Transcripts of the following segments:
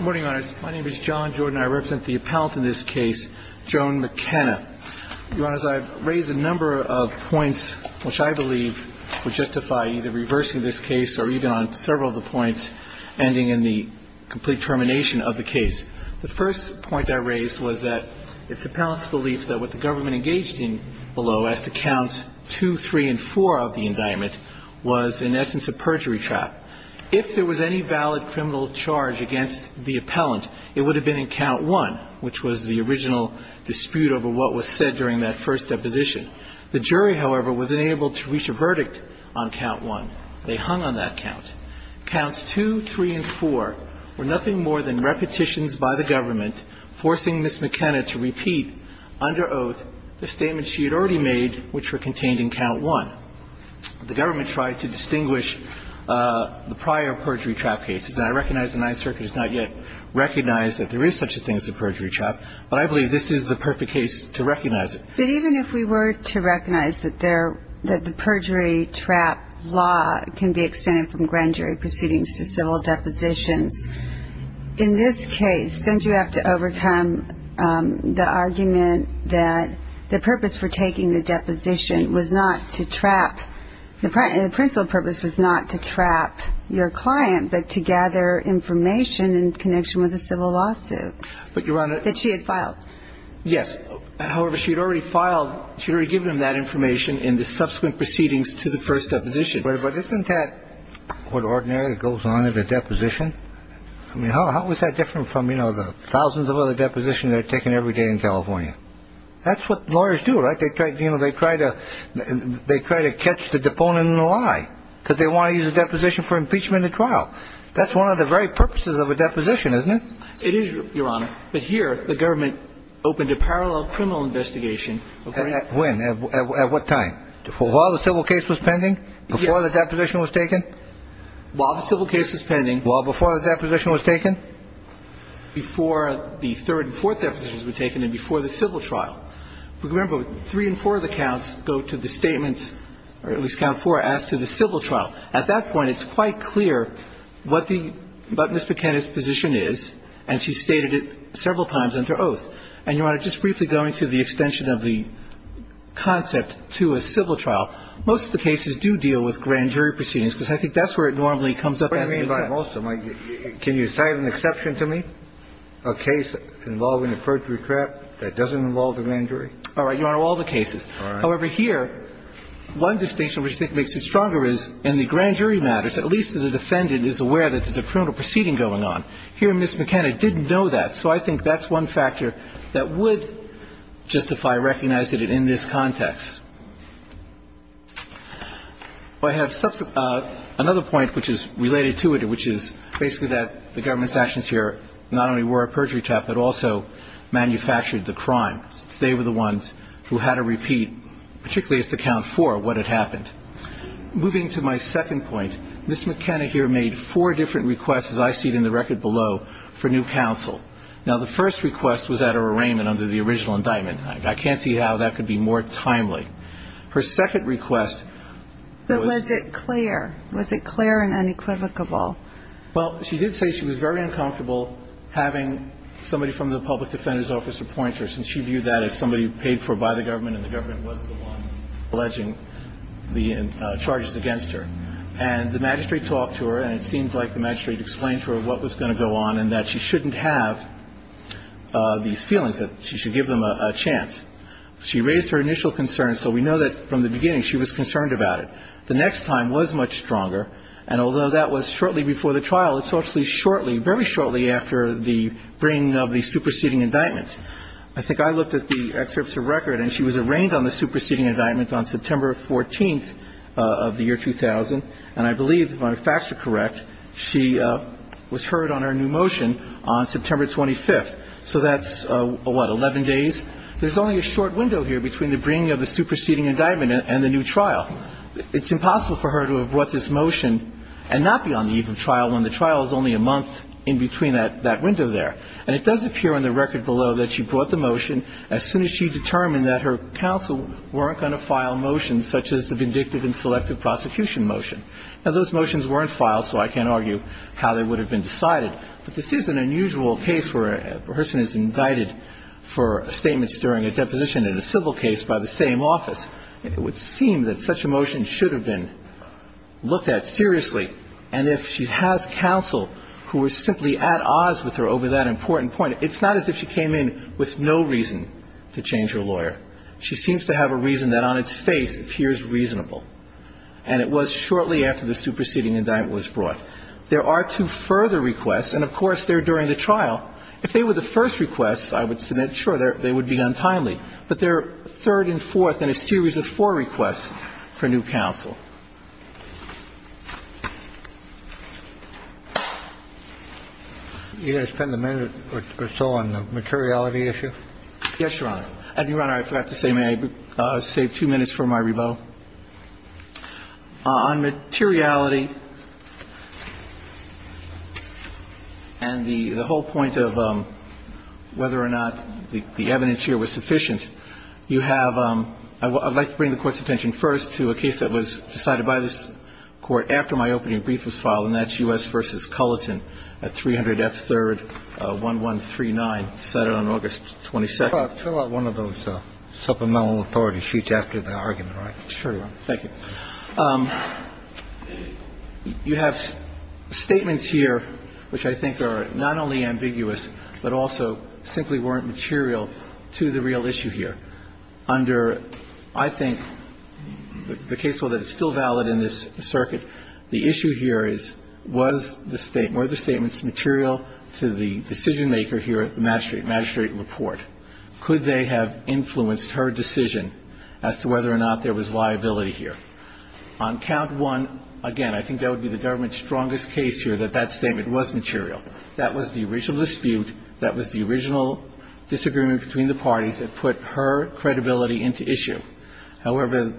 My name is John Jordan. I represent the appellant in this case, Joan McKenna. Your Honors, I've raised a number of points which I believe would justify either reversing this case or even on several of the points ending in the complete termination of the case. The first point I raised was that it's the appellant's belief that what the government engaged in below, as to Counts 2, 3, and 4 of the indictment, was in essence a perjury trial. If there was any valid criminal charge against the appellant, it would have been in Count 1, which was the original dispute over what was said during that first deposition. The jury, however, was unable to reach a verdict on Count 1. They hung on that count. Counts 2, 3, and 4 were nothing more than repetitions by the government forcing Ms. McKenna to repeat, under oath, the statements she had already made, which were contained in Count 1. The government tried to distinguish the prior perjury trial cases. And I recognize the Ninth Circuit has not yet recognized that there is such a thing as a perjury trial, but I believe this is the perfect case to recognize it. But even if we were to recognize that the perjury trial law can be extended from grand jury proceedings to civil depositions, in this case, don't you have to overcome the argument that the purpose for taking the deposition was not to trap the principal purpose was not to trap your client, but to gather information in connection with a civil lawsuit that she had filed? Yes. However, she had already filed, she had already given him that information in the subsequent proceedings to the first deposition. But isn't that what ordinarily goes on in a deposition? I mean, how is that different from, you know, the thousands of other depositions that are taken every day in California? That's what lawyers do, right? They try to catch the deponent in the lie because they want to use a deposition for impeachment in the trial. That's one of the very purposes of a deposition, isn't it? It is, Your Honor. But here, the government opened a parallel criminal investigation. When? At what time? While the civil case was pending? Before the deposition was taken? While the civil case was pending. Well, before the deposition was taken? Before the third and fourth depositions were taken and before the civil trial. Remember, three and four of the counts go to the statements, or at least count four are asked to the civil trial. At that point, it's quite clear what the Mrs. McKenna's position is, and she's stated it several times under oath. And, Your Honor, just briefly going to the extension of the concept to a civil trial, most of the cases do deal with grand jury proceedings because I think that's where it normally comes up as an exception. What do you mean by most of them? Can you cite an exception to me? A case involving a perjury trap that doesn't involve the grand jury? All right, Your Honor, all the cases. All right. However, here, one distinction which I think makes it stronger is in the grand jury matters, at least the defendant is aware that there's a criminal proceeding going on. Here, Ms. McKenna didn't know that, so I think that's one factor that would justify recognizing it in this context. I have another point which is related to it, which is basically that the government's actions here not only were a perjury trap, but also manufactured the crime, since they were the ones who had to repeat, particularly as to count four, what had happened. Moving to my second point, Ms. McKenna here made four different requests, as I see it in the record below, for new counsel. Now, the first request was at her arraignment under the original indictment. I can't see how that could be more timely. Her second request was the one that was at her arraignment. But was it clear? Was it clear and unequivocable? Well, she did say she was very uncomfortable having somebody from the public defender's office appoint her, since she viewed that as somebody paid for by the government and the government was the one alleging the charges against her. And the magistrate talked to her, and it seemed like the magistrate explained to her what was going to go on and that she shouldn't have these feelings, that she should give them a chance. She raised her initial concerns, so we know that from the beginning she was concerned about it. The next time was much stronger, and although that was shortly before the trial, it's actually shortly, very shortly after the bringing of the superseding indictment. I think I looked at the excerpts of record, and she was arraigned on the superseding indictment on September 14th of the year 2000, and I believe, if my facts are correct, she was heard on her new motion on September 25th. So that's, what, 11 days? There's only a short window here between the bringing of the superseding indictment and the new trial. It's impossible for her to have brought this motion and not be on the eve of trial when the trial is only a month in between that window there. And it does appear on the record below that she brought the motion as soon as she determined that her counsel weren't going to file motions such as the vindictive and selective prosecution motion. Now, those motions weren't filed, so I can't argue how they would have been decided, but this is an unusual case where a person is indicted for statements during a deposition in a civil case by the same office. It would seem that such a motion should have been looked at seriously, and if she has counsel who were simply at odds with her over that important point, it's not as if she came in with no reason to change her lawyer. She seems to have a reason that on its face appears reasonable, and it was shortly after the superseding indictment was brought. There are two further requests, and, of course, they're during the trial. If they were the first requests, I would submit, sure, they would be untimely, but they're third and fourth in a series of four requests for new counsel. You're going to spend a minute or so on the materiality issue? Yes, Your Honor. Your Honor, I forgot to say, may I save two minutes for my rebuttal? On materiality and the whole point of whether or not the evidence here was sufficient, you have – I would like to bring the Court's attention first to a case that was decided by this Court after my opening brief was filed, and that's U.S. v. Culleton at 300 F. 3rd, 1139, decided on August 22nd. Fill out one of those supplemental authority sheets after the argument, all right? Sure, Your Honor. Thank you. You have statements here which I think are not only ambiguous, but also simply weren't material to the real issue here. Under, I think, the case law that is still valid in this circuit, the issue here is, was the statement – were the statements material to the decisionmaker here at the magistrate – magistrate report? Could they have influenced her decision as to whether or not there was liability here? On count one, again, I think that would be the government's strongest case here, that that statement was material. That was the original dispute, that was the original disagreement between the parties that put her credibility into issue. However,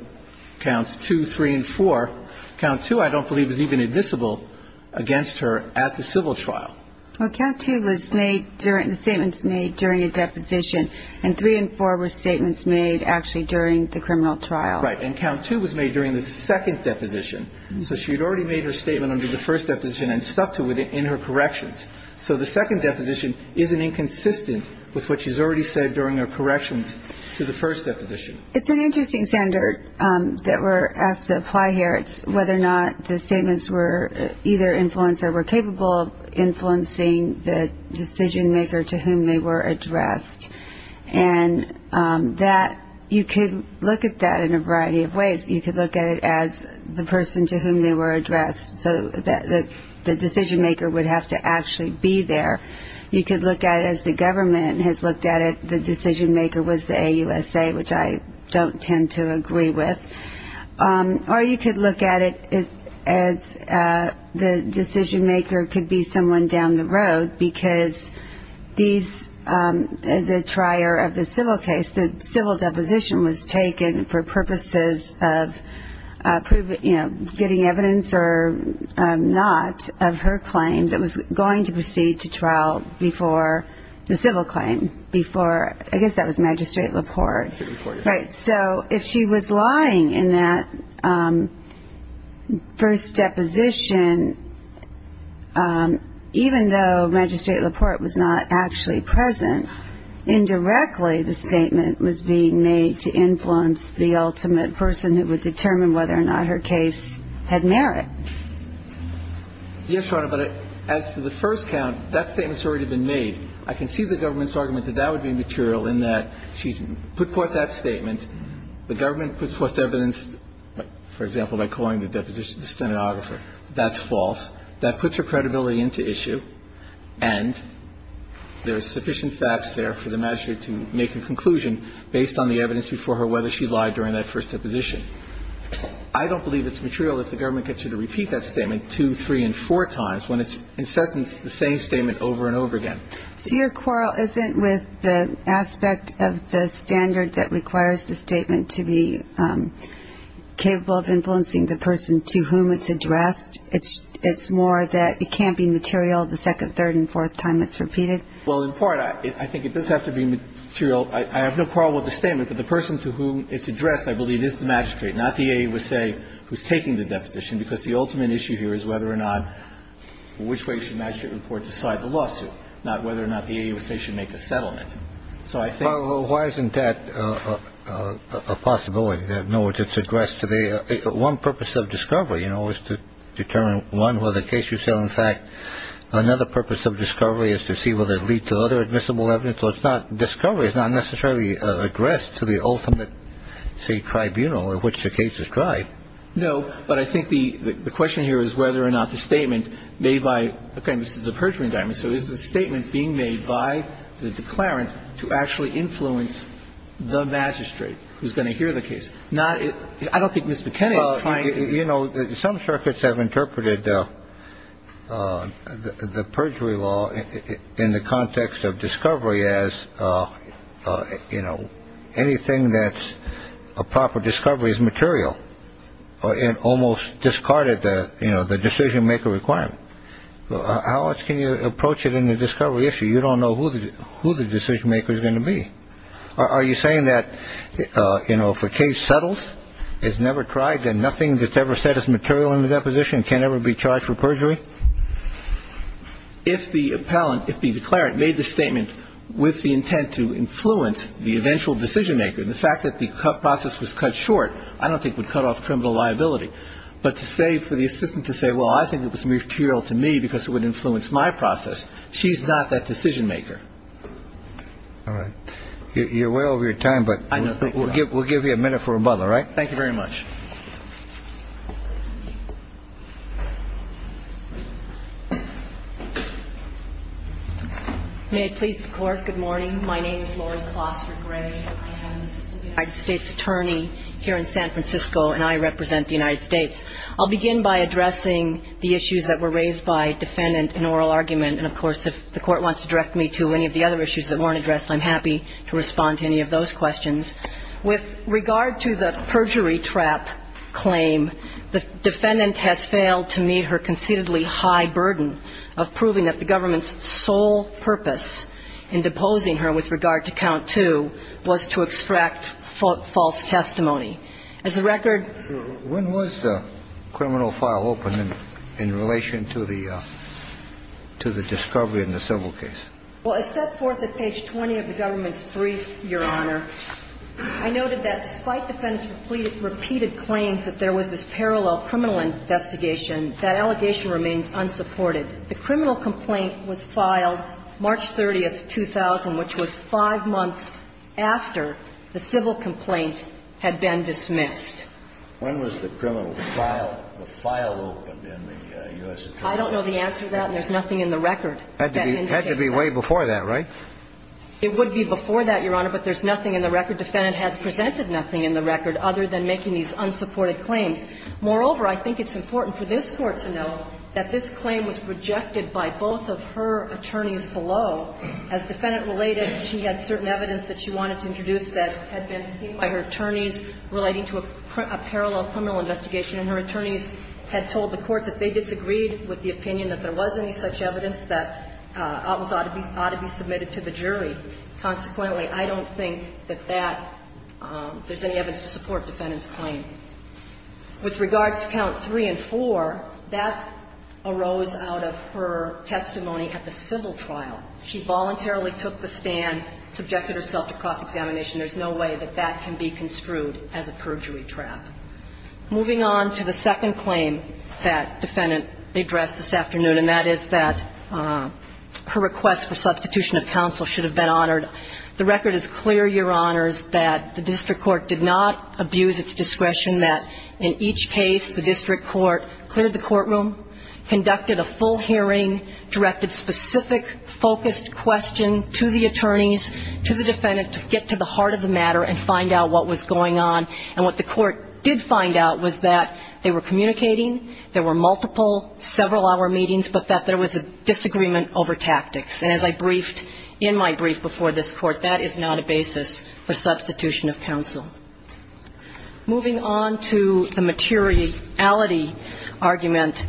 counts two, three, and four, count two I don't believe is even admissible against her at the civil trial. Well, count two was made during – the statement's made during a deposition, and three and four were statements made actually during the criminal trial. Right. And count two was made during the second deposition, so she had already made her statement under the first deposition and stuck to it in her corrections. So the second deposition isn't inconsistent with what she's already said during her corrections to the first deposition. It's an interesting standard that we're asked to apply here. It's whether or not the statements were either influenced or were capable of influencing the decisionmaker to whom they were addressed. And that – you could look at that in a variety of ways. You could look at it as the person to whom they were addressed, so that the decisionmaker would have to actually be there. You could look at it as the government has looked at it, the decisionmaker was the AUSA, which I don't tend to agree with. Or you could look at it as the decisionmaker could be someone down the road, because these – the trier of the civil case, the civil deposition was taken for purposes of, you know, getting evidence or not of her claim that was going to proceed to trial before the civil claim, before – I guess that was Magistrate LaPorte. Right. So if she was lying in that first deposition, even though Magistrate LaPorte was not actually present, indirectly the statement was being made to influence the ultimate person who would determine whether or not her case had merit. Yes, Your Honor. But as to the first count, that statement's already been made. I can see the government's argument that that would be material in that she's put forth that statement. The government puts forth evidence, for example, by calling the deposition the stenographer. That's false. That puts her credibility into issue, and there are sufficient facts there for the magistrate to make a conclusion based on the evidence before her whether she lied during that first deposition. I don't believe it's material if the government gets her to repeat that statement two, three, and four times when it's incessant the same statement over and over again. So your quarrel isn't with the aspect of the standard that requires the statement to be capable of influencing the person to whom it's addressed? It's more that it can't be material the second, third, and fourth time it's repeated? Well, in part, I think it does have to be material. I have no quarrel with the statement. But the person to whom it's addressed, I believe, is the magistrate, not the AAUSA who's taking the deposition, because the ultimate issue here is whether or not which way should the magistrate report decide the lawsuit, not whether or not the AAUSA should make a settlement. So I think ---- Well, why isn't that a possibility? In other words, it's addressed to the one purpose of discovery, you know, is to determine, one, whether the case you say, in fact, another purpose of discovery is to see whether it leads to other admissible evidence. So it's not ---- discovery is not necessarily addressed to the ultimate, say, tribunal in which the case is tried. No. But I think the question here is whether or not the statement made by ---- again, this is a perjury indictment. So is the statement being made by the declarant to actually influence the magistrate who's going to hear the case? Not ---- I don't think Mr. Kennedy is trying to ---- Well, you know, some circuits have interpreted the perjury law in the context of discovery as, you know, anything that's a proper discovery is material. It almost discarded the, you know, the decision-maker requirement. How much can you approach it in the discovery issue? You don't know who the decision-maker is going to be. Are you saying that, you know, if a case settles, is never tried, then nothing that's ever said is material in the deposition can ever be charged for perjury? If the appellant ---- if the declarant made the statement with the intent to influence the eventual decision-maker, the fact that the process was cut short, I don't think would cut off criminal liability. But to say for the assistant to say, well, I think it was material to me because it would influence my process, she's not that decision-maker. All right. You're way over your time, but we'll give you a minute for rebuttal, all right? Thank you very much. May it please the Court, good morning. My name is Laurie Clossard Gray. I am the Assistant United States Attorney here in San Francisco, and I represent the United States. I'll begin by addressing the issues that were raised by defendant in oral argument. And, of course, if the Court wants to direct me to any of the other issues that weren't addressed, I'm happy to respond to any of those questions. With regard to the perjury trap claim, the defendant has failed to meet her concededly high burden of proving that the government's sole purpose in deposing her with regard to count two was to extract false testimony. As a record ---- When was the criminal file opened in relation to the discovery in the civil case? Well, as set forth at page 20 of the government's brief, Your Honor, I noted that despite defendant's repeated claims that there was this parallel criminal investigation, that allegation remains unsupported. The criminal complaint was filed March 30th, 2000, which was five months after the civil complaint had been dismissed. When was the criminal file, the file opened in the U.S. Attorney's office? I don't know the answer to that, and there's nothing in the record that indicates that. It had to be way before that, right? It would be before that, Your Honor, but there's nothing in the record. Defendant has presented nothing in the record other than making these unsupported claims. Moreover, I think it's important for this Court to know that this claim was rejected by both of her attorneys below. As defendant related, she had certain evidence that she wanted to introduce that had been seen by her attorneys relating to a parallel criminal investigation, and her attorneys had told the Court that they disagreed with the opinion that there was any such evidence that ought to be submitted to the jury. Consequently, I don't think that that there's any evidence to support defendant's claim. With regards to count 3 and 4, that arose out of her testimony at the civil trial. She voluntarily took the stand, subjected herself to cross-examination. There's no way that that can be construed as a perjury trap. Moving on to the second claim that defendant addressed this afternoon, and that is that her request for substitution of counsel should have been honored. The record is clear, Your Honors, that the district court did not abuse its discretion that in each case the district court cleared the courtroom, conducted a full hearing, directed specific focused question to the attorneys, to the defendant to get to the did find out was that they were communicating, there were multiple several-hour meetings, but that there was a disagreement over tactics. And as I briefed in my brief before this Court, that is not a basis for substitution of counsel. Moving on to the materiality argument,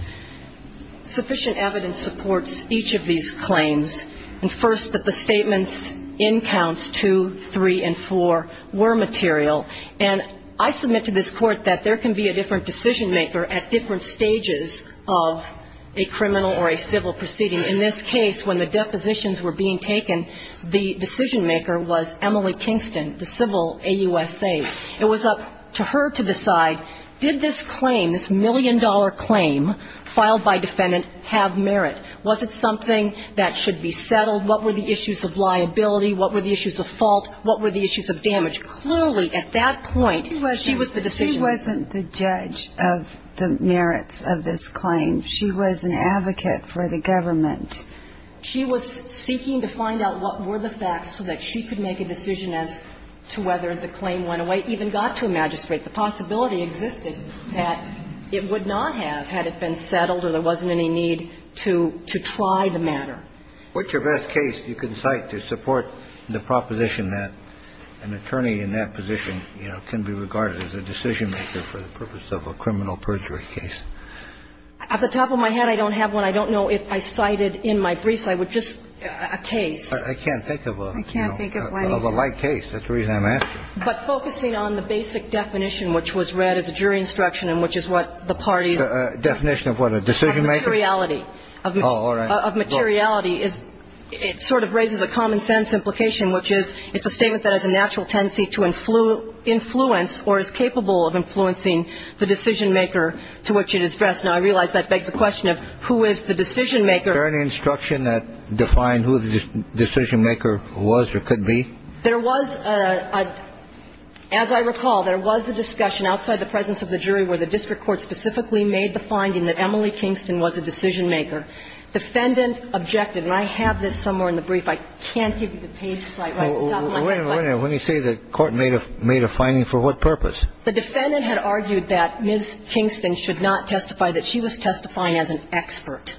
sufficient evidence supports each of these claims, and first, that the statements in counts 2, 3, and 4 were material. And I submit to this Court that there can be a different decision-maker at different stages of a criminal or a civil proceeding. In this case, when the depositions were being taken, the decision-maker was Emily Kingston, the civil AUSA. It was up to her to decide, did this claim, this million-dollar claim filed by defendant have merit? Was it something that should be settled? What were the issues of liability? What were the issues of fault? What were the issues of damage? Clearly, at that point, she was the decision-maker. She wasn't the judge of the merits of this claim. She was an advocate for the government. She was seeking to find out what were the facts so that she could make a decision as to whether the claim went away, even got to a magistrate. The possibility existed that it would not have had it been settled or there wasn't any need to try the matter. What's your best case you can cite to support the proposition that an attorney in that position, you know, can be regarded as a decision-maker for the purpose of a criminal perjury case? At the top of my head, I don't have one. I don't know if I cited in my briefs. I would just, a case. I can't think of one. I can't think of one. Of a light case. That's the reason I'm asking. But focusing on the basic definition, which was read as a jury instruction and which is what the parties. Definition of what? A decision-maker? Of materiality. Of materiality. Of materiality is, it sort of raises a common sense implication, which is it's a statement that has a natural tendency to influence or is capable of influencing the decision-maker to which it is addressed. Now, I realize that begs the question of who is the decision-maker? Is there any instruction that defined who the decision-maker was or could be? There was a, as I recall, there was a discussion outside the presence of the jury where the district court specifically made the finding that Emily Kingston was a decision-maker. Defendant objected, and I have this somewhere in the brief. I can't give you the page site. Wait a minute. Wait a minute. When you say the court made a finding, for what purpose? The defendant had argued that Ms. Kingston should not testify, that she was testifying as an expert.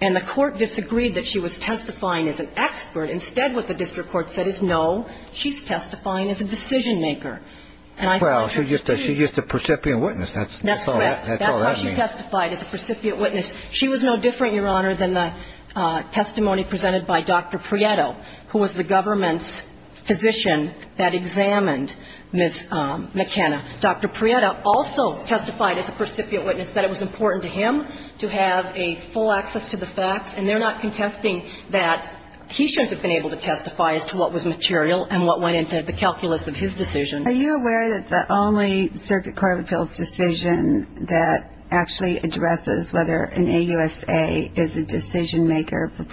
And the court disagreed that she was testifying as an expert. Instead, what the district court said is, no, she's testifying as a decision-maker. And I think that's true. Well, she's just a precipient witness. That's all that means. That's correct. That's how she testified, as a precipient witness. She was no different, Your Honor, than the testimony presented by Dr. Prieto, who was the government's physician that examined Ms. McKenna. Dr. Prieto also testified as a precipient witness that it was important to him to have a full access to the facts. And they're not contesting that he shouldn't have been able to testify as to what was material and what went into the calculus of his decision. Are you aware that the only Circuit Court of Appeals decision that actually addresses whether an AUSA is a decision-maker, or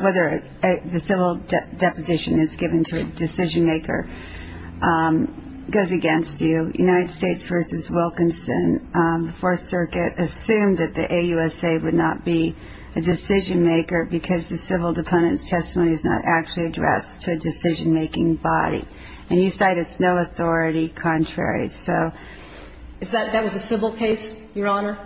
whether the civil deposition is given to a decision-maker, goes against you, United States v. Wilkinson? The Fourth Circuit assumed that the AUSA would not be a decision-maker because the civil deponent's testimony is not actually addressed to a decision-making body. And you cite as no authority contrary, so. Is that a civil case, Your Honor?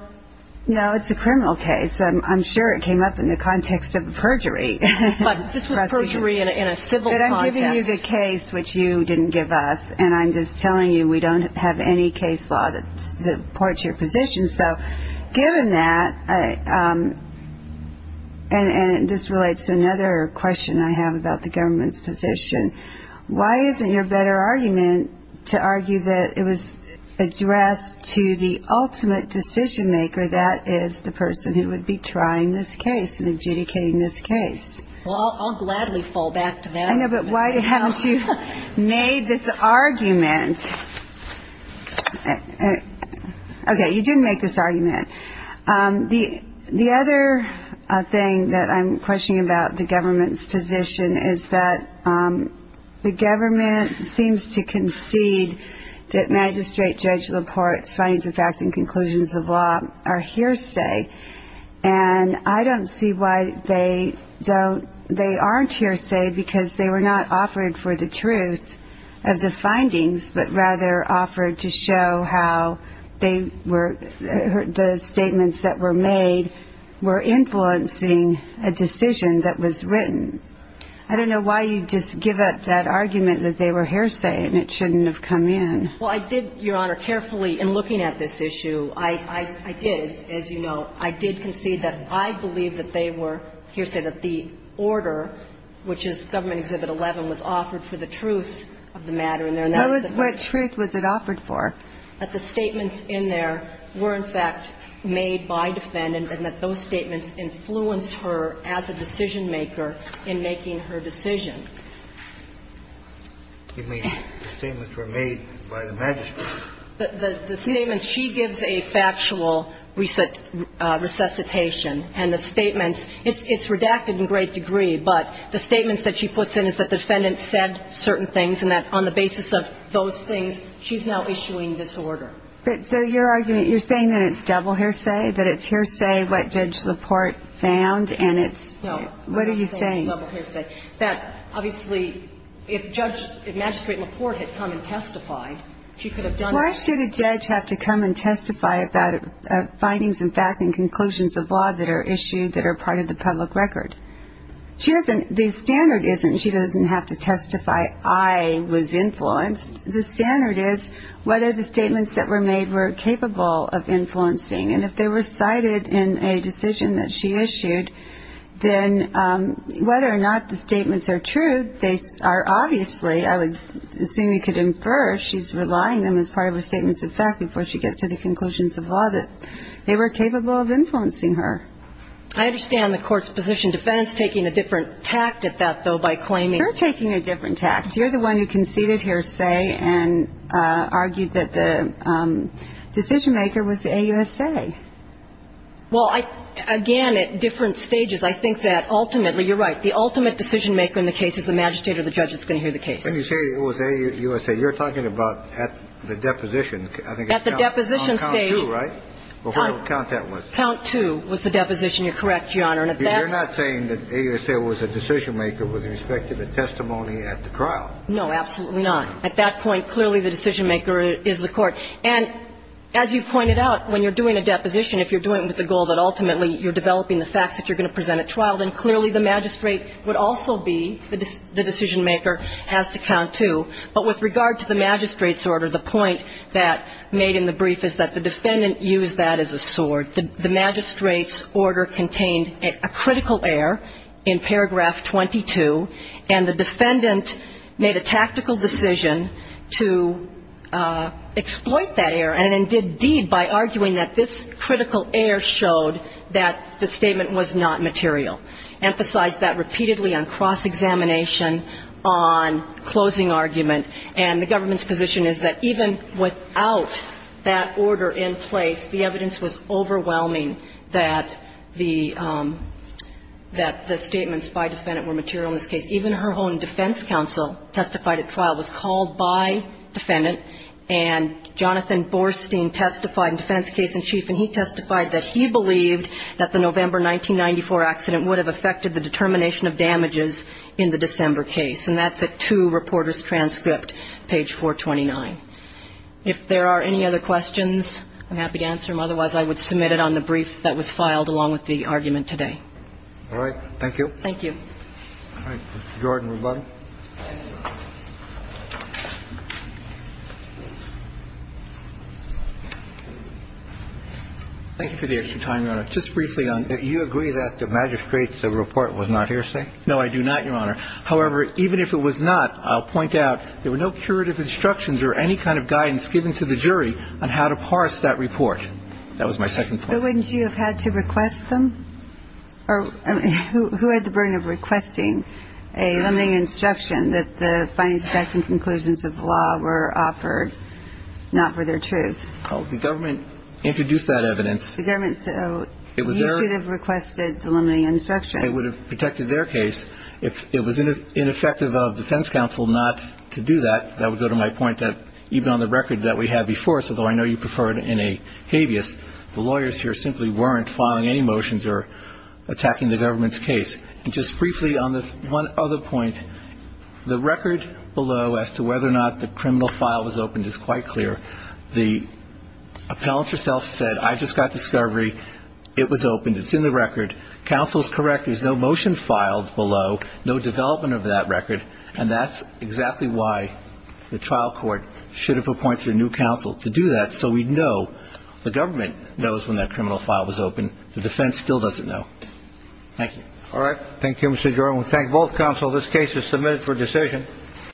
No, it's a criminal case. I'm sure it came up in the context of perjury. But this was perjury in a civil context. But I'm giving you the case which you didn't give us, and I'm just telling you we don't have any case law that supports your position. So given that, and this relates to another question I have about the government's position, why isn't your better argument to argue that it was addressed to the ultimate decision-maker, that is the person who would be trying this case and adjudicating this case? Well, I'll gladly fall back to that. I know, but why haven't you made this argument? Okay, you didn't make this argument. The other thing that I'm questioning about the government's position is that the government seems to concede that magistrate, judge reports, findings of fact, and conclusions of law are hearsay, and I don't see why they aren't hearsay because they were not offered for the truth of the findings, but rather offered to show how they were the statements that were made were influencing a decision that was written. I don't know why you just give up that argument that they were hearsay and it shouldn't have come in. Well, I did, Your Honor, carefully in looking at this issue, I did, as you know, I did concede that I believe that they were hearsay, that the order, which is Government Exhibit 11, was offered for the truth of the matter. And they're not. What truth was it offered for? That the statements in there were, in fact, made by defendant, and that those statements influenced her as a decision-maker in making her decision. You mean the statements were made by the magistrate? The statements she gives a factual resuscitation, and the statements, it's redacted in great degree, but the statements that she puts in is that the defendant said certain things and that on the basis of those things, she's now issuing this order. But so your argument, you're saying that it's double hearsay, that it's hearsay what Judge LaPorte found and it's, what are you saying? No, I'm not saying it's double hearsay. That, obviously, if Judge, if Magistrate LaPorte had come and testified, she could have done that. Why should a judge have to come and testify about findings and facts and conclusions of law that are issued that are part of the public record? She doesn't, the standard isn't she doesn't have to testify I was influenced. The standard is whether the statements that were made were capable of influencing. And if they were cited in a decision that she issued, then whether or not the statements are true, they are obviously, I would assume you could infer she's relying on them as part of her statements of fact before she gets to the conclusions of law that they were capable of influencing her. I understand the Court's position. Defendant's taking a different tact at that, though, by claiming. You're taking a different tact. You're the one who conceded hearsay and argued that the decision-maker was the AUSA. Well, I, again, at different stages, I think that ultimately, you're right, the ultimate decision-maker in the case is the magistrate or the judge that's going to hear the case. When you say it was AUSA, you're talking about at the deposition. At the deposition stage. On count two, right? Or whatever count that was. Count two was the deposition. You're correct, Your Honor. You're not saying that AUSA was a decision-maker with respect to the testimony at the trial. No, absolutely not. At that point, clearly the decision-maker is the Court. And as you pointed out, when you're doing a deposition, if you're doing it with the goal that ultimately you're developing the facts that you're going to present at trial, then clearly the magistrate would also be the decision-maker, has to count two. But with regard to the magistrate's order, the point that made in the brief is that the defendant used that as a sword. The magistrate's order contained a critical error in paragraph 22, and the defendant made a tactical decision to exploit that error and then did deed by arguing that this critical error showed that the statement was not material, emphasized that repeatedly on cross-examination, on closing argument. And the government's position is that even without that order in place, the evidence was overwhelming that the statements by defendant were material in this case. Even her own defense counsel testified at trial, was called by defendant, and Jonathan Borstein testified in defense case in chief, and he testified that he believed that the November 1994 accident would have affected the determination of damages in the December case. And that's at 2 Reporters Transcript, page 429. If there are any other questions, I'm happy to answer them. Otherwise, I would submit it on the brief that was filed along with the argument today. All right. Thank you. Thank you. All right. Mr. Jordan, rebuttal. Thank you for the extra time, Your Honor. Just briefly on the ---- You agree that the magistrate's report was not hearsay? No, I do not, Your Honor. However, even if it was not, I'll point out there were no curative instructions or any kind of guidance given to the jury on how to parse that report. That was my second point. But wouldn't you have had to request them? Who had the burden of requesting a limiting instruction that the findings, facts, and conclusions of the law were offered not for their truth? The government introduced that evidence. The government said, oh, you should have requested the limiting instruction. It would have protected their case. If it was ineffective of defense counsel not to do that, that would go to my point that even on the record that we have before us, although I know you prefer it in a habeas, the lawyers here simply weren't filing any motions or attacking the government's case. And just briefly on the one other point, the record below as to whether or not the criminal file was opened is quite clear. The appellant herself said, I just got discovery. It was opened. It's in the record. Counsel is correct. There's no motion filed below, no development of that record, and that's exactly why the trial court should have appointed a new counsel to do that. So we know the government knows when that criminal file was open. The defense still doesn't know. Thank you. All right. Thank you, Mr. Jerome. We thank both counsel. This case is submitted for decision.